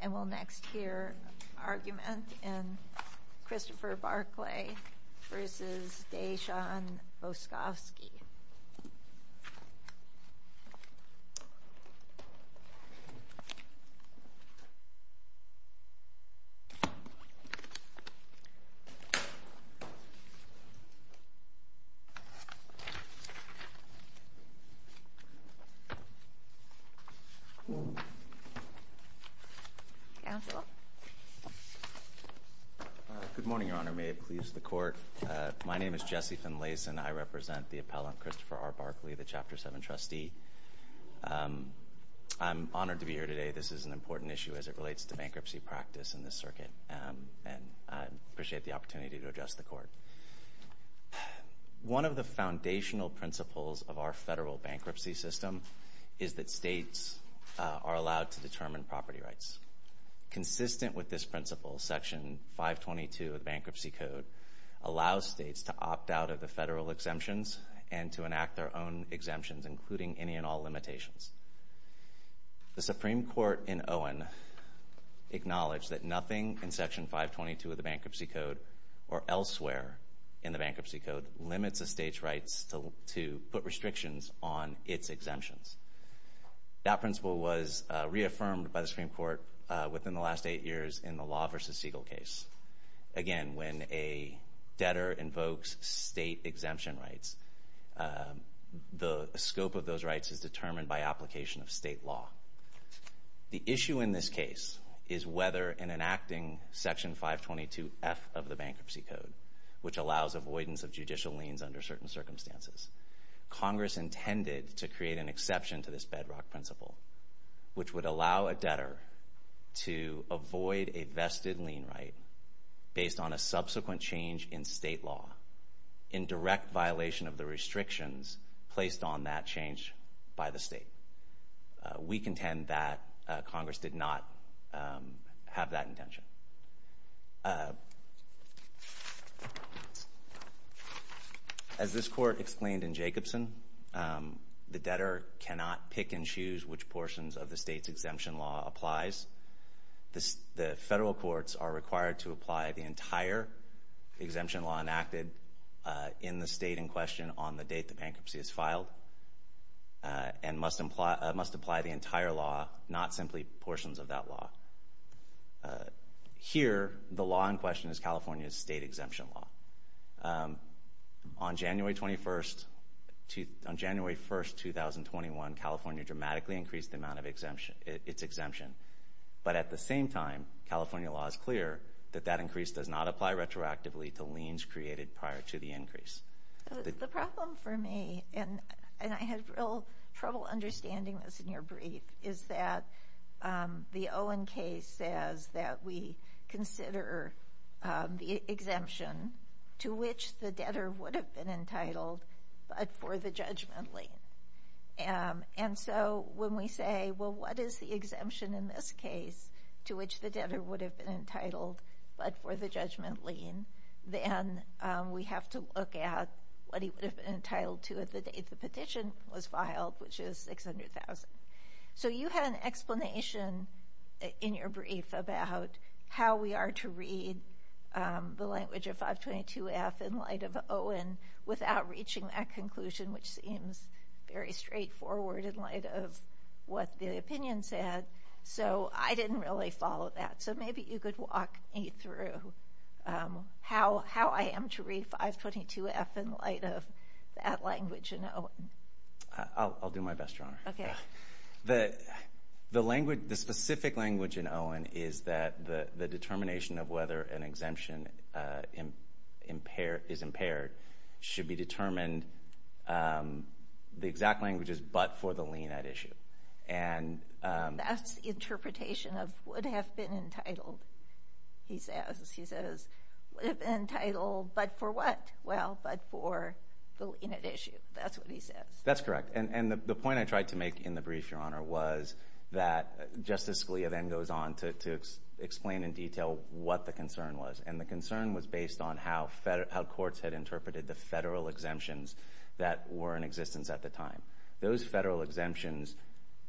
And we'll next hear an argument in Christopher Barclay v. Dejan Boskoski. Good morning, Your Honor. May it please the Court. My name is Jesse Finlayson. I represent the appellant, Christopher R. Barclay, the Chapter 7 trustee. I'm honored to be here today. This is an important issue as it relates to bankruptcy practice in this circuit. And I appreciate the opportunity to address the Court. One of the foundational principles of our federal bankruptcy system is that states are allowed to determine property rights. Consistent with this principle, Section 522 of the Bankruptcy Code allows states to opt out of the federal exemptions and to enact their own exemptions, including any and all limitations. The Supreme Court in Owen acknowledged that nothing in Section 522 of the Bankruptcy Code or elsewhere in the Bankruptcy Code limits a state's rights to put restrictions on its exemptions. That principle was reaffirmed by the Supreme Court within the last eight years in the Law v. Siegel case. Again, when a debtor invokes state exemption rights, the scope of those rights is determined by application of state law. The issue in this case is whether in enacting Section 522F of the Bankruptcy Code, which allows avoidance of judicial liens under certain circumstances, Congress intended to create an exception to this bedrock principle, which would allow a debtor to avoid a vested lien right based on a subsequent change in state law in direct violation of the restrictions placed on that change by the state. We contend that Congress did not have that intention. As this Court explained in Jacobson, the debtor cannot pick and choose which portions of the state's exemption law applies. The federal courts are required to apply the entire exemption law enacted in the state in question on the date the bankruptcy is filed and must apply the entire law, not simply portions of that law. Here, the law in question is California's state exemption law. On January 1, 2021, California dramatically increased the amount of its exemption. But at the same time, California law is clear that that increase does not apply retroactively to liens created prior to the increase. The problem for me, and I had real trouble understanding this in your brief, is that the Owen case says that we consider the exemption to which the debtor would have been entitled but for the judgment lien. And so when we say, well, what is the exemption in this case to which the debtor would have been entitled but for the judgment lien, then we have to look at what he would have been entitled to at the date the petition was filed, which is $600,000. So you had an explanation in your brief about how we are to read the language of 522F in light of Owen without reaching that conclusion, which seems very straightforward in light of what the opinion said. So I didn't really follow that. So maybe you could walk me through how I am to read 522F in light of that language in Owen. I'll do my best, Your Honor. The specific language in Owen is that the determination of whether an exemption is impaired should be determined, the exact language is but for the lien at issue. That's the interpretation of would have been entitled, he says. He says, would have been entitled but for what? Well, but for the lien at issue. That's what he says. That's correct. And the point I tried to make in the brief, Your Honor, was that Justice Scalia then goes on to explain in detail what the concern was. And the concern was based on how courts had interpreted the federal exemptions that were in existence at the time. Those federal exemptions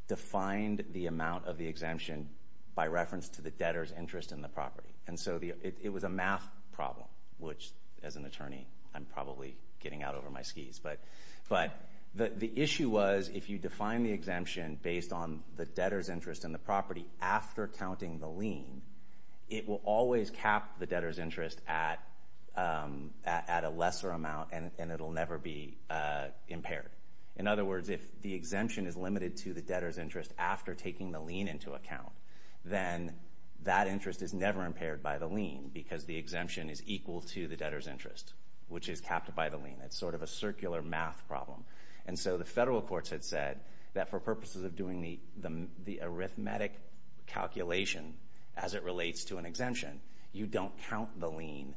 defined the amount of the exemption by reference to the debtor's interest in the property. And so it was a math problem, which, as an attorney, I'm probably getting out over my skis. But the issue was if you define the exemption based on the debtor's interest in the property after counting the lien, it will always cap the debtor's interest at a lesser amount, and it will never be impaired. In other words, if the exemption is limited to the debtor's interest after taking the lien into account, then that interest is never impaired by the lien because the exemption is equal to the debtor's interest, which is capped by the lien. It's sort of a circular math problem. And so the federal courts had said that for purposes of doing the arithmetic calculation as it relates to an exemption, you don't count the lien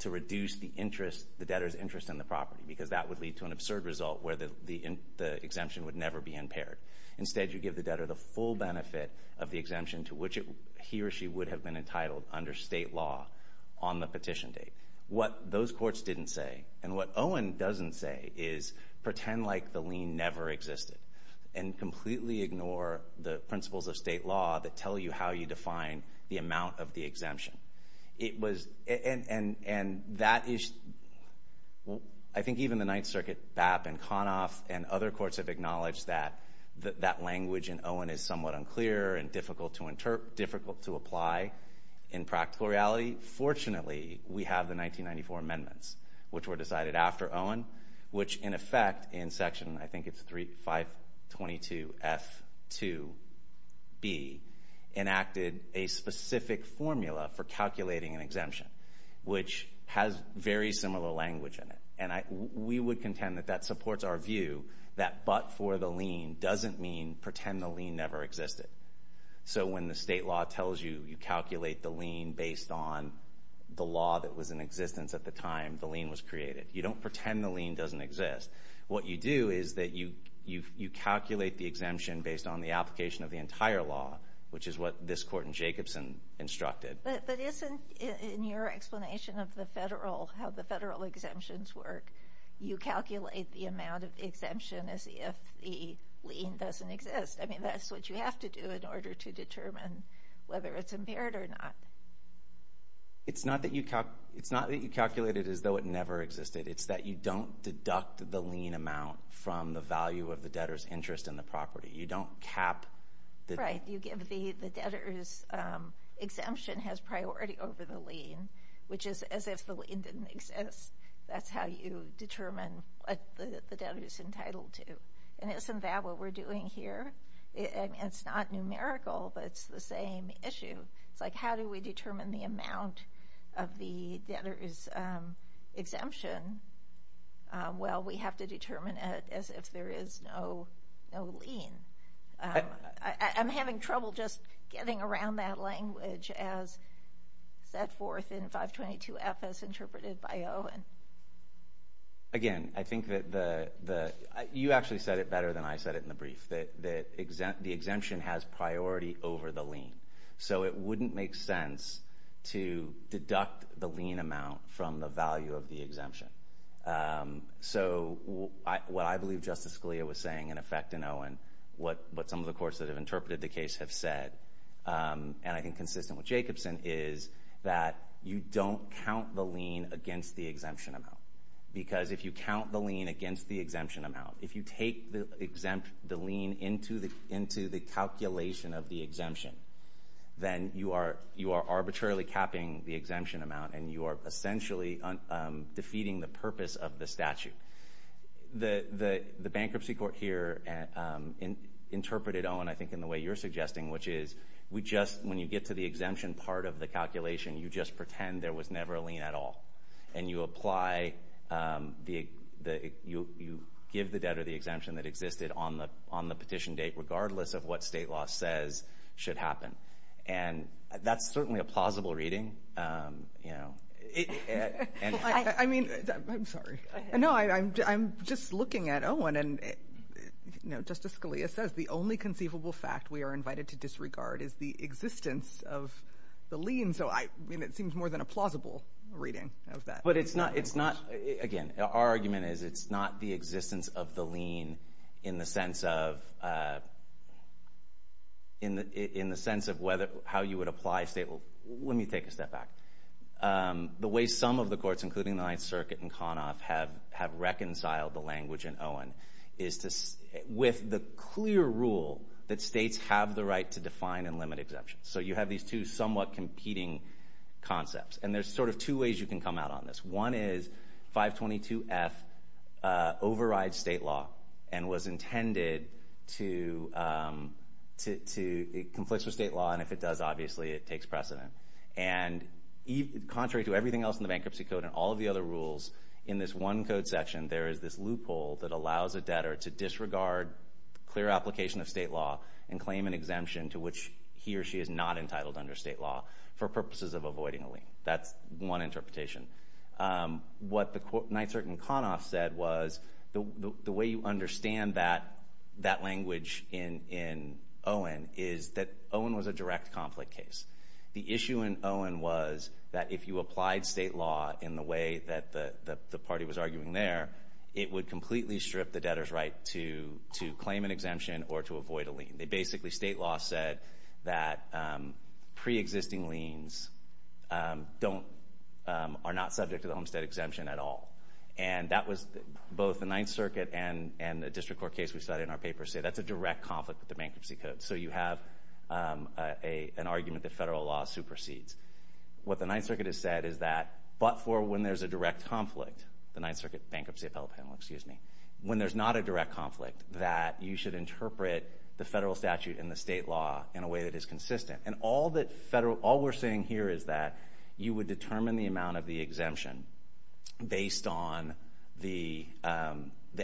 to reduce the debtor's interest in the property because that would lead to an absurd result where the exemption would never be impaired. Instead, you give the debtor the full benefit of the exemption to which he or she would have been entitled under state law on the petition date. What those courts didn't say, and what Owen doesn't say, is pretend like the lien never existed and completely ignore the principles of state law that tell you how you define the amount of the exemption. And I think even the Ninth Circuit BAP and CONOF and other courts have acknowledged that that language in Owen is somewhat unclear and difficult to apply in practical reality. Fortunately, we have the 1994 amendments, which were decided after Owen, which, in effect, in section, I think it's 522F2B, enacted a specific formula for calculating an exemption, which has very similar language in it. And we would contend that that supports our view that but for the lien doesn't mean pretend the lien never existed. So when the state law tells you you calculate the lien based on the law that was in existence at the time the lien was created, you don't pretend the lien doesn't exist. What you do is that you calculate the exemption based on the application of the entire law, which is what this court in Jacobson instructed. But isn't, in your explanation of the federal, how the federal exemptions work, you calculate the amount of exemption as if the lien doesn't exist? I mean, that's what you have to do in order to determine whether it's impaired or not. It's not that you calculate it as though it never existed. It's that you don't deduct the lien amount from the value of the debtor's interest in the property. You don't cap. Right. You give the debtor's exemption has priority over the lien, which is as if the lien didn't exist. That's how you determine what the debtor's entitled to. And isn't that what we're doing here? It's not numerical, but it's the same issue. It's like how do we determine the amount of the debtor's exemption? Well, we have to determine it as if there is no lien. I'm having trouble just getting around that language as set forth in 522F as interpreted by Owen. Again, I think that the – you actually said it better than I said it in the brief, that the exemption has priority over the lien. So it wouldn't make sense to deduct the lien amount from the value of the exemption. So what I believe Justice Scalia was saying in effect in Owen, what some of the courts that have interpreted the case have said, and I think consistent with Jacobson, is that you don't count the lien against the exemption amount. Because if you count the lien against the exemption amount, if you take the lien into the calculation of the exemption, then you are arbitrarily capping the exemption amount, and you are essentially defeating the purpose of the statute. The bankruptcy court here interpreted, Owen, I think in the way you're suggesting, which is we just – when you get to the exemption part of the calculation, you just pretend there was never a lien at all. And you apply the – you give the debtor the exemption that existed on the petition date, regardless of what state law says should happen. And that's certainly a plausible reading. I mean – I'm sorry. No, I'm just looking at Owen, and Justice Scalia says the only conceivable fact we are invited to disregard is the existence of the lien. And so, I mean, it seems more than a plausible reading of that. But it's not – it's not – again, our argument is it's not the existence of the lien in the sense of – in the sense of whether – how you would apply state law. Let me take a step back. The way some of the courts, including the Ninth Circuit and Conoff, have reconciled the language in Owen is to – with the clear rule that states have the right to define and limit exemptions. So you have these two somewhat competing concepts. And there's sort of two ways you can come out on this. One is 522F overrides state law and was intended to – it conflicts with state law, and if it does, obviously, it takes precedent. And contrary to everything else in the Bankruptcy Code and all of the other rules, in this one code section there is this loophole that allows a debtor to disregard clear application of state law and claim an exemption to which he or she is not entitled under state law for purposes of avoiding a lien. That's one interpretation. What the Ninth Circuit and Conoff said was the way you understand that language in Owen is that Owen was a direct conflict case. The issue in Owen was that if you applied state law in the way that the party was arguing there, it would completely strip the debtor's right to claim an exemption or to avoid a lien. Basically, state law said that preexisting liens are not subject to the Homestead Exemption at all. And that was both the Ninth Circuit and the district court case we cited in our paper say that's a direct conflict with the Bankruptcy Code. So you have an argument that federal law supersedes. What the Ninth Circuit has said is that but for when there's a direct conflict, the Ninth Circuit Bankruptcy Appeal Panel, excuse me, when there's not a direct conflict that you should interpret the federal statute and the state law in a way that is consistent. And all we're saying here is that you would determine the amount of the exemption based on the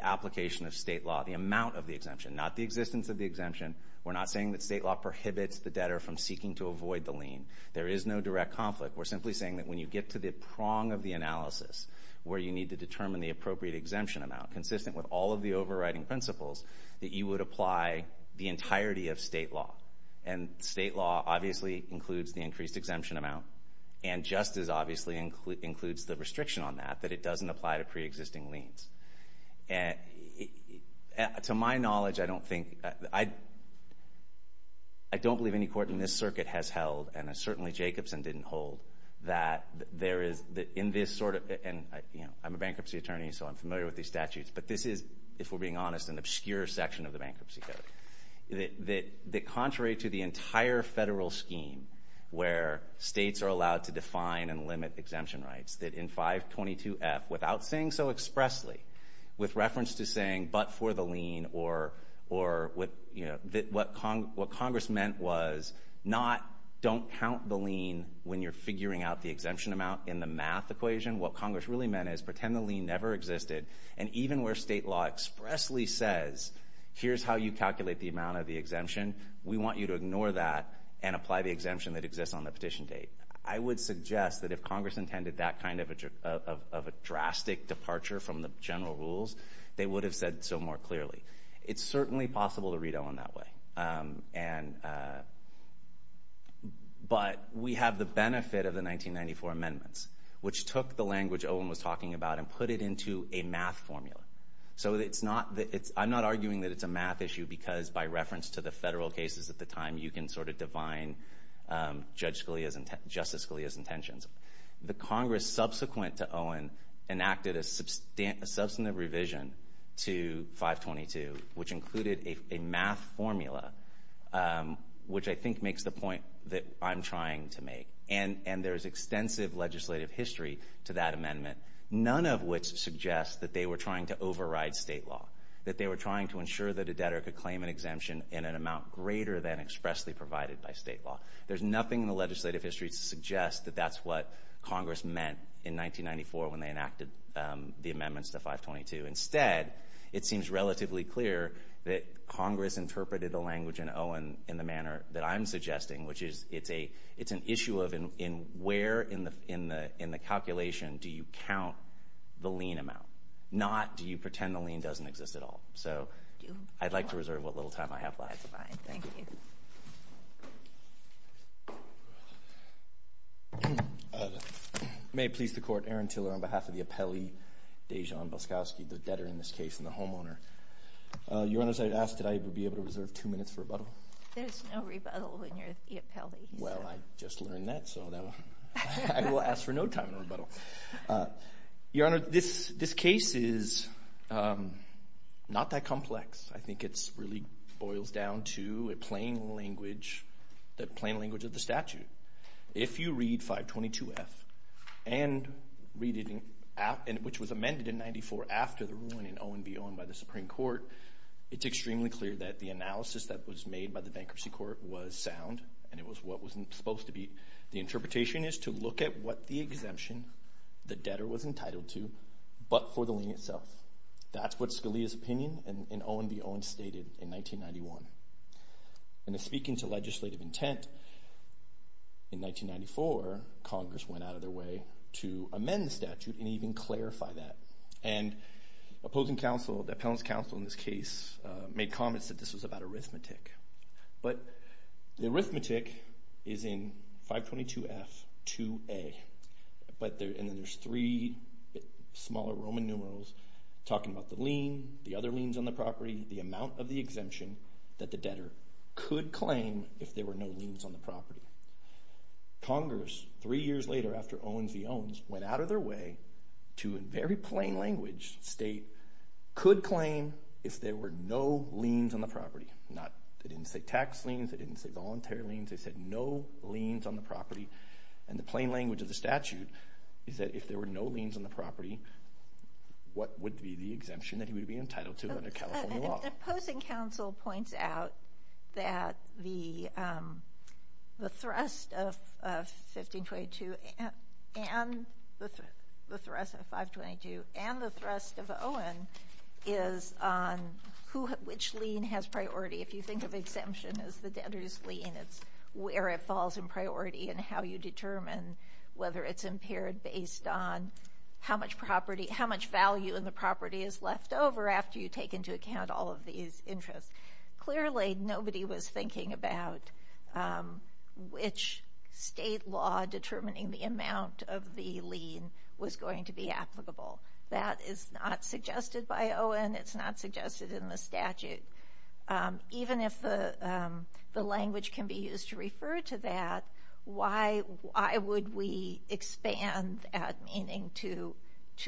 application of state law, the amount of the exemption, not the existence of the exemption. We're not saying that state law prohibits the debtor from seeking to avoid the lien. There is no direct conflict. We're simply saying that when you get to the prong of the analysis, where you need to determine the appropriate exemption amount consistent with all of the overriding principles, that you would apply the entirety of state law. And state law obviously includes the increased exemption amount and just as obviously includes the restriction on that, that it doesn't apply to preexisting liens. And to my knowledge, I don't think, I don't believe any court in this circuit has held and certainly Jacobson didn't hold that there is in this sort of, and, you know, I'm a bankruptcy attorney, so I'm familiar with these statutes, but this is, if we're being honest, an obscure section of the bankruptcy code. That contrary to the entire federal scheme where states are allowed to define and limit exemption rights, that in 522F, without saying so expressly, with reference to saying but for the lien or, you know, what Congress meant was not don't count the lien when you're figuring out the exemption amount in the math equation. What Congress really meant is pretend the lien never existed, and even where state law expressly says here's how you calculate the amount of the exemption, we want you to ignore that and apply the exemption that exists on the petition date. I would suggest that if Congress intended that kind of a drastic departure from the general rules, they would have said so more clearly. It's certainly possible to read Owen that way, but we have the benefit of the 1994 amendments, which took the language Owen was talking about and put it into a math formula. So it's not, I'm not arguing that it's a math issue because by reference to the federal cases at the time, you can sort of define Justice Scalia's intentions. The Congress subsequent to Owen enacted a substantive revision to 522, which included a math formula, which I think makes the point that I'm trying to make, and there's extensive legislative history to that amendment, none of which suggests that they were trying to override state law, that they were trying to ensure that a debtor could claim an exemption in an amount greater than expressly provided by state law. There's nothing in the legislative history to suggest that that's what Congress meant in 1994 when they enacted the amendments to 522. Instead, it seems relatively clear that Congress interpreted the language in Owen in the manner that I'm suggesting, which is it's an issue of where in the calculation do you count the lien amount, not do you pretend the lien doesn't exist at all. So I'd like to reserve what little time I have left. That's fine. Thank you. May it please the Court, Aaron Tiller on behalf of the appellee Dajon Boskowski, the debtor in this case and the homeowner. Your Honor, as I asked, did I be able to reserve two minutes for rebuttal? There's no rebuttal when you're the appellee. Well, I just learned that, so I will ask for no time in rebuttal. Your Honor, this case is not that complex. I think it really boils down to a plain language of the statute. If you read 522F, which was amended in 1994 after the ruling in Owen v. Owen by the Supreme Court, it's extremely clear that the analysis that was made by the bankruptcy court was sound and it was what was supposed to be. The interpretation is to look at what the exemption the debtor was entitled to, but for the lien itself. That's what Scalia's opinion in Owen v. Owen stated in 1991. And in speaking to legislative intent in 1994, Congress went out of their way to amend the statute and even clarify that. And opposing counsel, the appellant's counsel in this case, made comments that this was about arithmetic. But the arithmetic is in 522F, 2A, and then there's three smaller Roman numerals talking about the lien, the other liens on the property, the amount of the exemption that the debtor could claim if there were no liens on the property. Congress, three years later after Owen v. Owens, went out of their way to, in very plain language, could claim if there were no liens on the property. They didn't say tax liens. They didn't say voluntary liens. They said no liens on the property. And the plain language of the statute is that if there were no liens on the property, what would be the exemption that he would be entitled to under California law? And opposing counsel points out that the thrust of 1522 and the thrust of 522 and the thrust of Owen is on which lien has priority. If you think of exemption as the debtor's lien, it's where it falls in priority and how you determine whether it's impaired based on how much value in the property is left over after you take into account all of these interests. Clearly, nobody was thinking about which state law determining the amount of the lien was going to be applicable. That is not suggested by Owen. It's not suggested in the statute. Even if the language can be used to refer to that, why would we expand that meaning to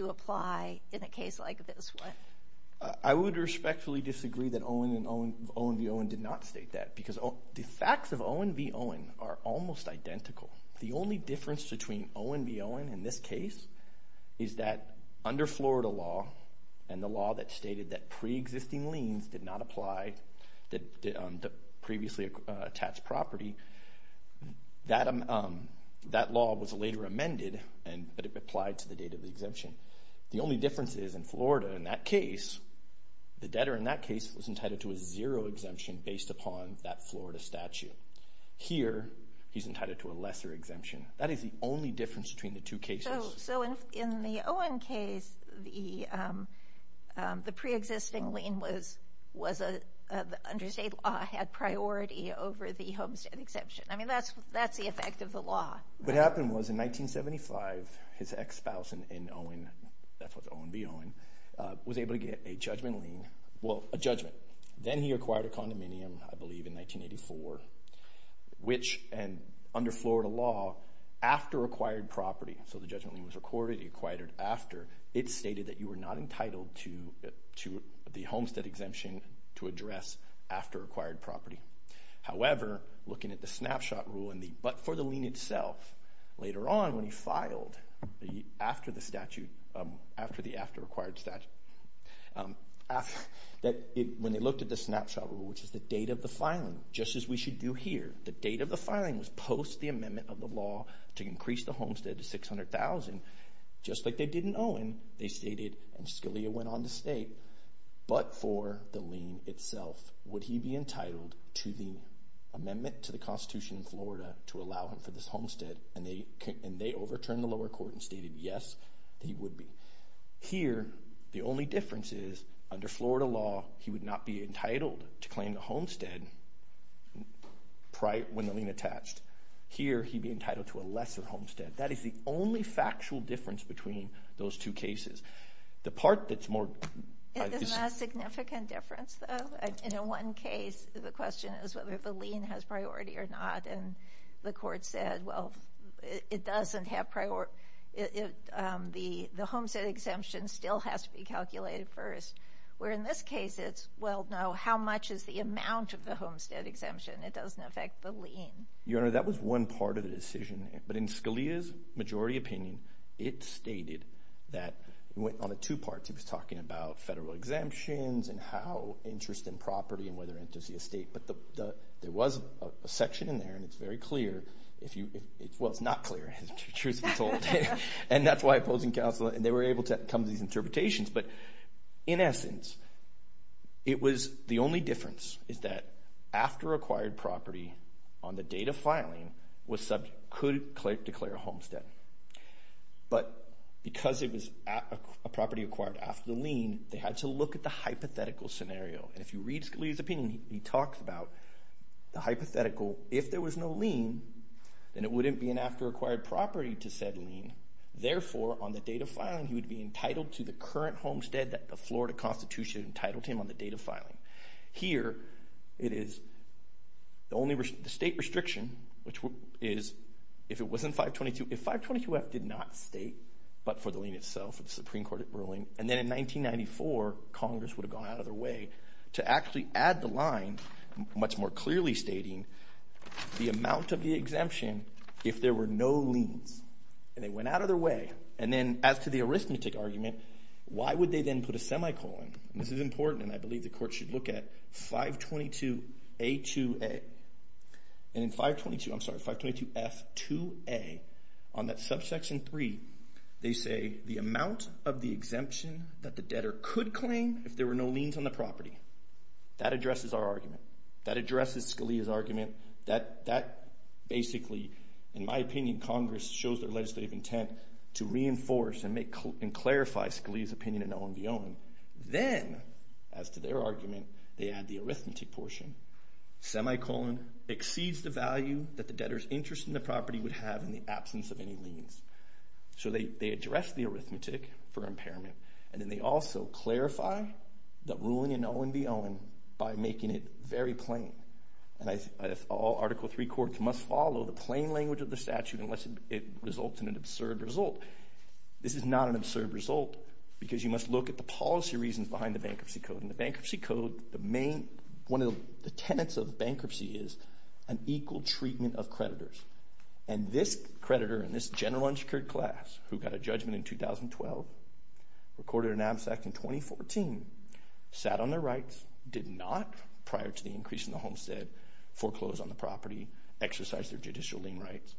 apply in a case like this one? I would respectfully disagree that Owen v. Owen did not state that because the facts of Owen v. Owen are almost identical. The only difference between Owen v. Owen in this case is that under Florida law and the law that stated that preexisting liens did not apply to previously attached property, that law was later amended, but it applied to the date of the exemption. The only difference is in Florida in that case, the debtor in that case was entitled to a zero exemption based upon that Florida statute. Here, he's entitled to a lesser exemption. That is the only difference between the two cases. In the Owen case, the preexisting lien under state law had priority over the homestead exemption. That's the effect of the law. What happened was in 1975, his ex-spouse in Owen, that was Owen v. Owen, was able to get a judgment lien, well, a judgment. Then he acquired a condominium, I believe, in 1984, which under Florida law, after acquired property, so the judgment lien was recorded, he acquired it after, it stated that you were not entitled to the homestead exemption to address after acquired property. However, looking at the snapshot rule, but for the lien itself, later on when he filed after the statute, after the after acquired statute, when they looked at the snapshot rule, which is the date of the filing, just as we should do here, the date of the filing was post the amendment of the law to increase the homestead to $600,000. Just like they did in Owen, they stated, and Scalia went on to state, but for the lien itself, would he be entitled to the amendment to the Constitution in Florida to allow him for this homestead, and they overturned the lower court and stated yes, he would be. Here, the only difference is, under Florida law, he would not be entitled to claim the homestead when the lien attached. Here, he'd be entitled to a lesser homestead. That is the only factual difference between those two cases. The part that's more... Isn't that a significant difference, though? In one case, the question is whether the lien has priority or not, and the court said, well, it doesn't have priority. The homestead exemption still has to be calculated first, where in this case it's, well, no, how much is the amount of the homestead exemption? It doesn't affect the lien. Your Honor, that was one part of the decision, but in Scalia's majority opinion, it stated that it went on to two parts. He was talking about federal exemptions and how interest in property and whether it enters the estate, but there was a section in there, and it's very clear if you... Well, it's not clear, truth be told, and that's why opposing counsel... Some of these interpretations, but in essence, it was the only difference is that after acquired property on the date of filing could declare a homestead, but because it was a property acquired after the lien, they had to look at the hypothetical scenario, and if you read Scalia's opinion, he talks about the hypothetical. If there was no lien, then it wouldn't be an after-acquired property to said lien. Therefore, on the date of filing, he would be entitled to the current homestead that the Florida Constitution entitled him on the date of filing. Here, it is the state restriction, which is if it was in 522, if 522F did not state but for the lien itself, the Supreme Court ruling, and then in 1994, Congress would have gone out of their way to actually add the line, much more clearly stating the amount of the exemption if there were no liens, and they went out of their way, and then as to the arithmetic argument, why would they then put a semicolon? This is important, and I believe the court should look at 522A2A. And in 522, I'm sorry, 522F2A, on that subsection three, they say the amount of the exemption that the debtor could claim if there were no liens on the property. That addresses our argument. That addresses Scalia's argument. That basically, in my opinion, Congress shows their legislative intent to reinforce and clarify Scalia's opinion in Owen v. Owen. Then, as to their argument, they add the arithmetic portion. Semicolon exceeds the value that the debtor's interest in the property would have in the absence of any liens. So they address the arithmetic for impairment, and then they also clarify the ruling in Owen v. Owen by making it very plain. And all Article III courts must follow the plain language of the statute unless it results in an absurd result. This is not an absurd result, because you must look at the policy reasons behind the Bankruptcy Code. In the Bankruptcy Code, one of the tenets of bankruptcy is an equal treatment of creditors. And this creditor in this general unsecured class, who got a judgment in 2012, recorded an absent in 2014, sat on their rights, did not, prior to the increase in the homestead, foreclose on the property, exercise their judicial lien rights.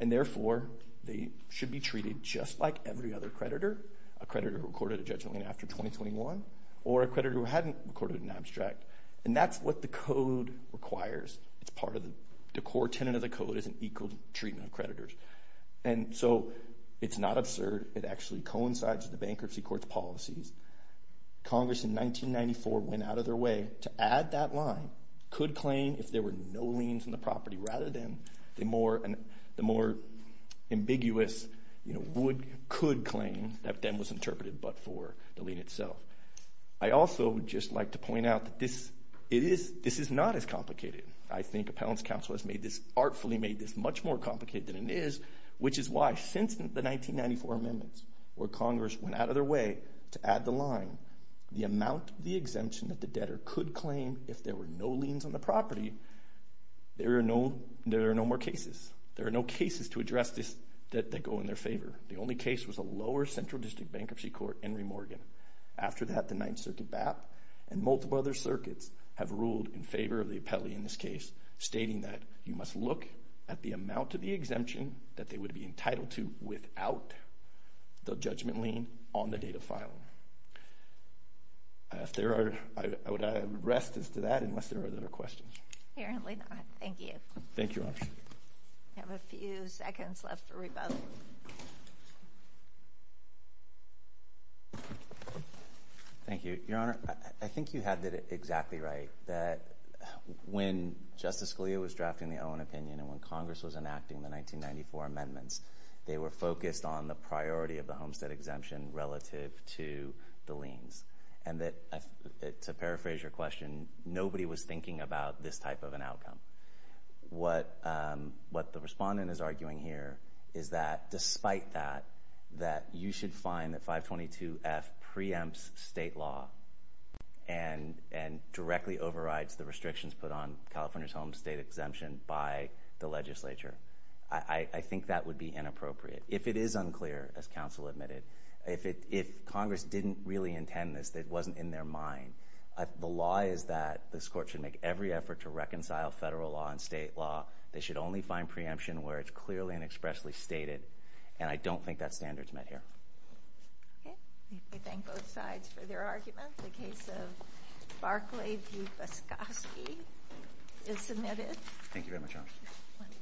And therefore, they should be treated just like every other creditor, a creditor who recorded a judgment lien after 2021, or a creditor who hadn't recorded an abstract. And that's what the Code requires. It's part of the core tenet of the Code is an equal treatment of creditors. And so it's not absurd. It actually coincides with the Bankruptcy Court's policies. Congress, in 1994, went out of their way to add that line, could claim if there were no liens on the property, rather than the more ambiguous would, could claim, that then was interpreted but for the lien itself. I also would just like to point out that this is not as complicated. I think Appellant's Counsel has artfully made this much more complicated than it is, which is why, since the 1994 amendments, where Congress went out of their way to add the line, the amount of the exemption that the debtor could claim if there were no liens on the property, there are no more cases. There are no cases to address that go in their favor. The only case was a lower Central District Bankruptcy Court, Henry Morgan. After that, the Ninth Circuit BAP and multiple other circuits have ruled in favor of the appellee in this case, stating that you must look at the amount of the exemption that they would be entitled to without the judgment lien on the date of filing. If there are, I would rest as to that, unless there are other questions. Apparently not. Thank you. Thank you, Your Honor. We have a few seconds left for rebuttal. Thank you. Your Honor, I think you had that exactly right, that when Justice Scalia was drafting the Owen opinion and when Congress was enacting the 1994 amendments, they were focused on the priority of the homestead exemption relative to the liens, and that, to paraphrase your question, nobody was thinking about this type of an outcome. What the respondent is arguing here is that, despite that, that you should find that 522F preempts state law and directly overrides the restrictions put on California's homestead exemption by the legislature. I think that would be inappropriate. If it is unclear, as counsel admitted, if Congress didn't really intend this, it wasn't in their mind, the law is that this court should make every effort to reconcile federal law and state law. They should only find preemption where it's clearly and expressly stated, and I don't think that standard is met here. Okay. I thank both sides for their arguments. The case of Barclay v. Voskosky is submitted. Thank you very much, Your Honor.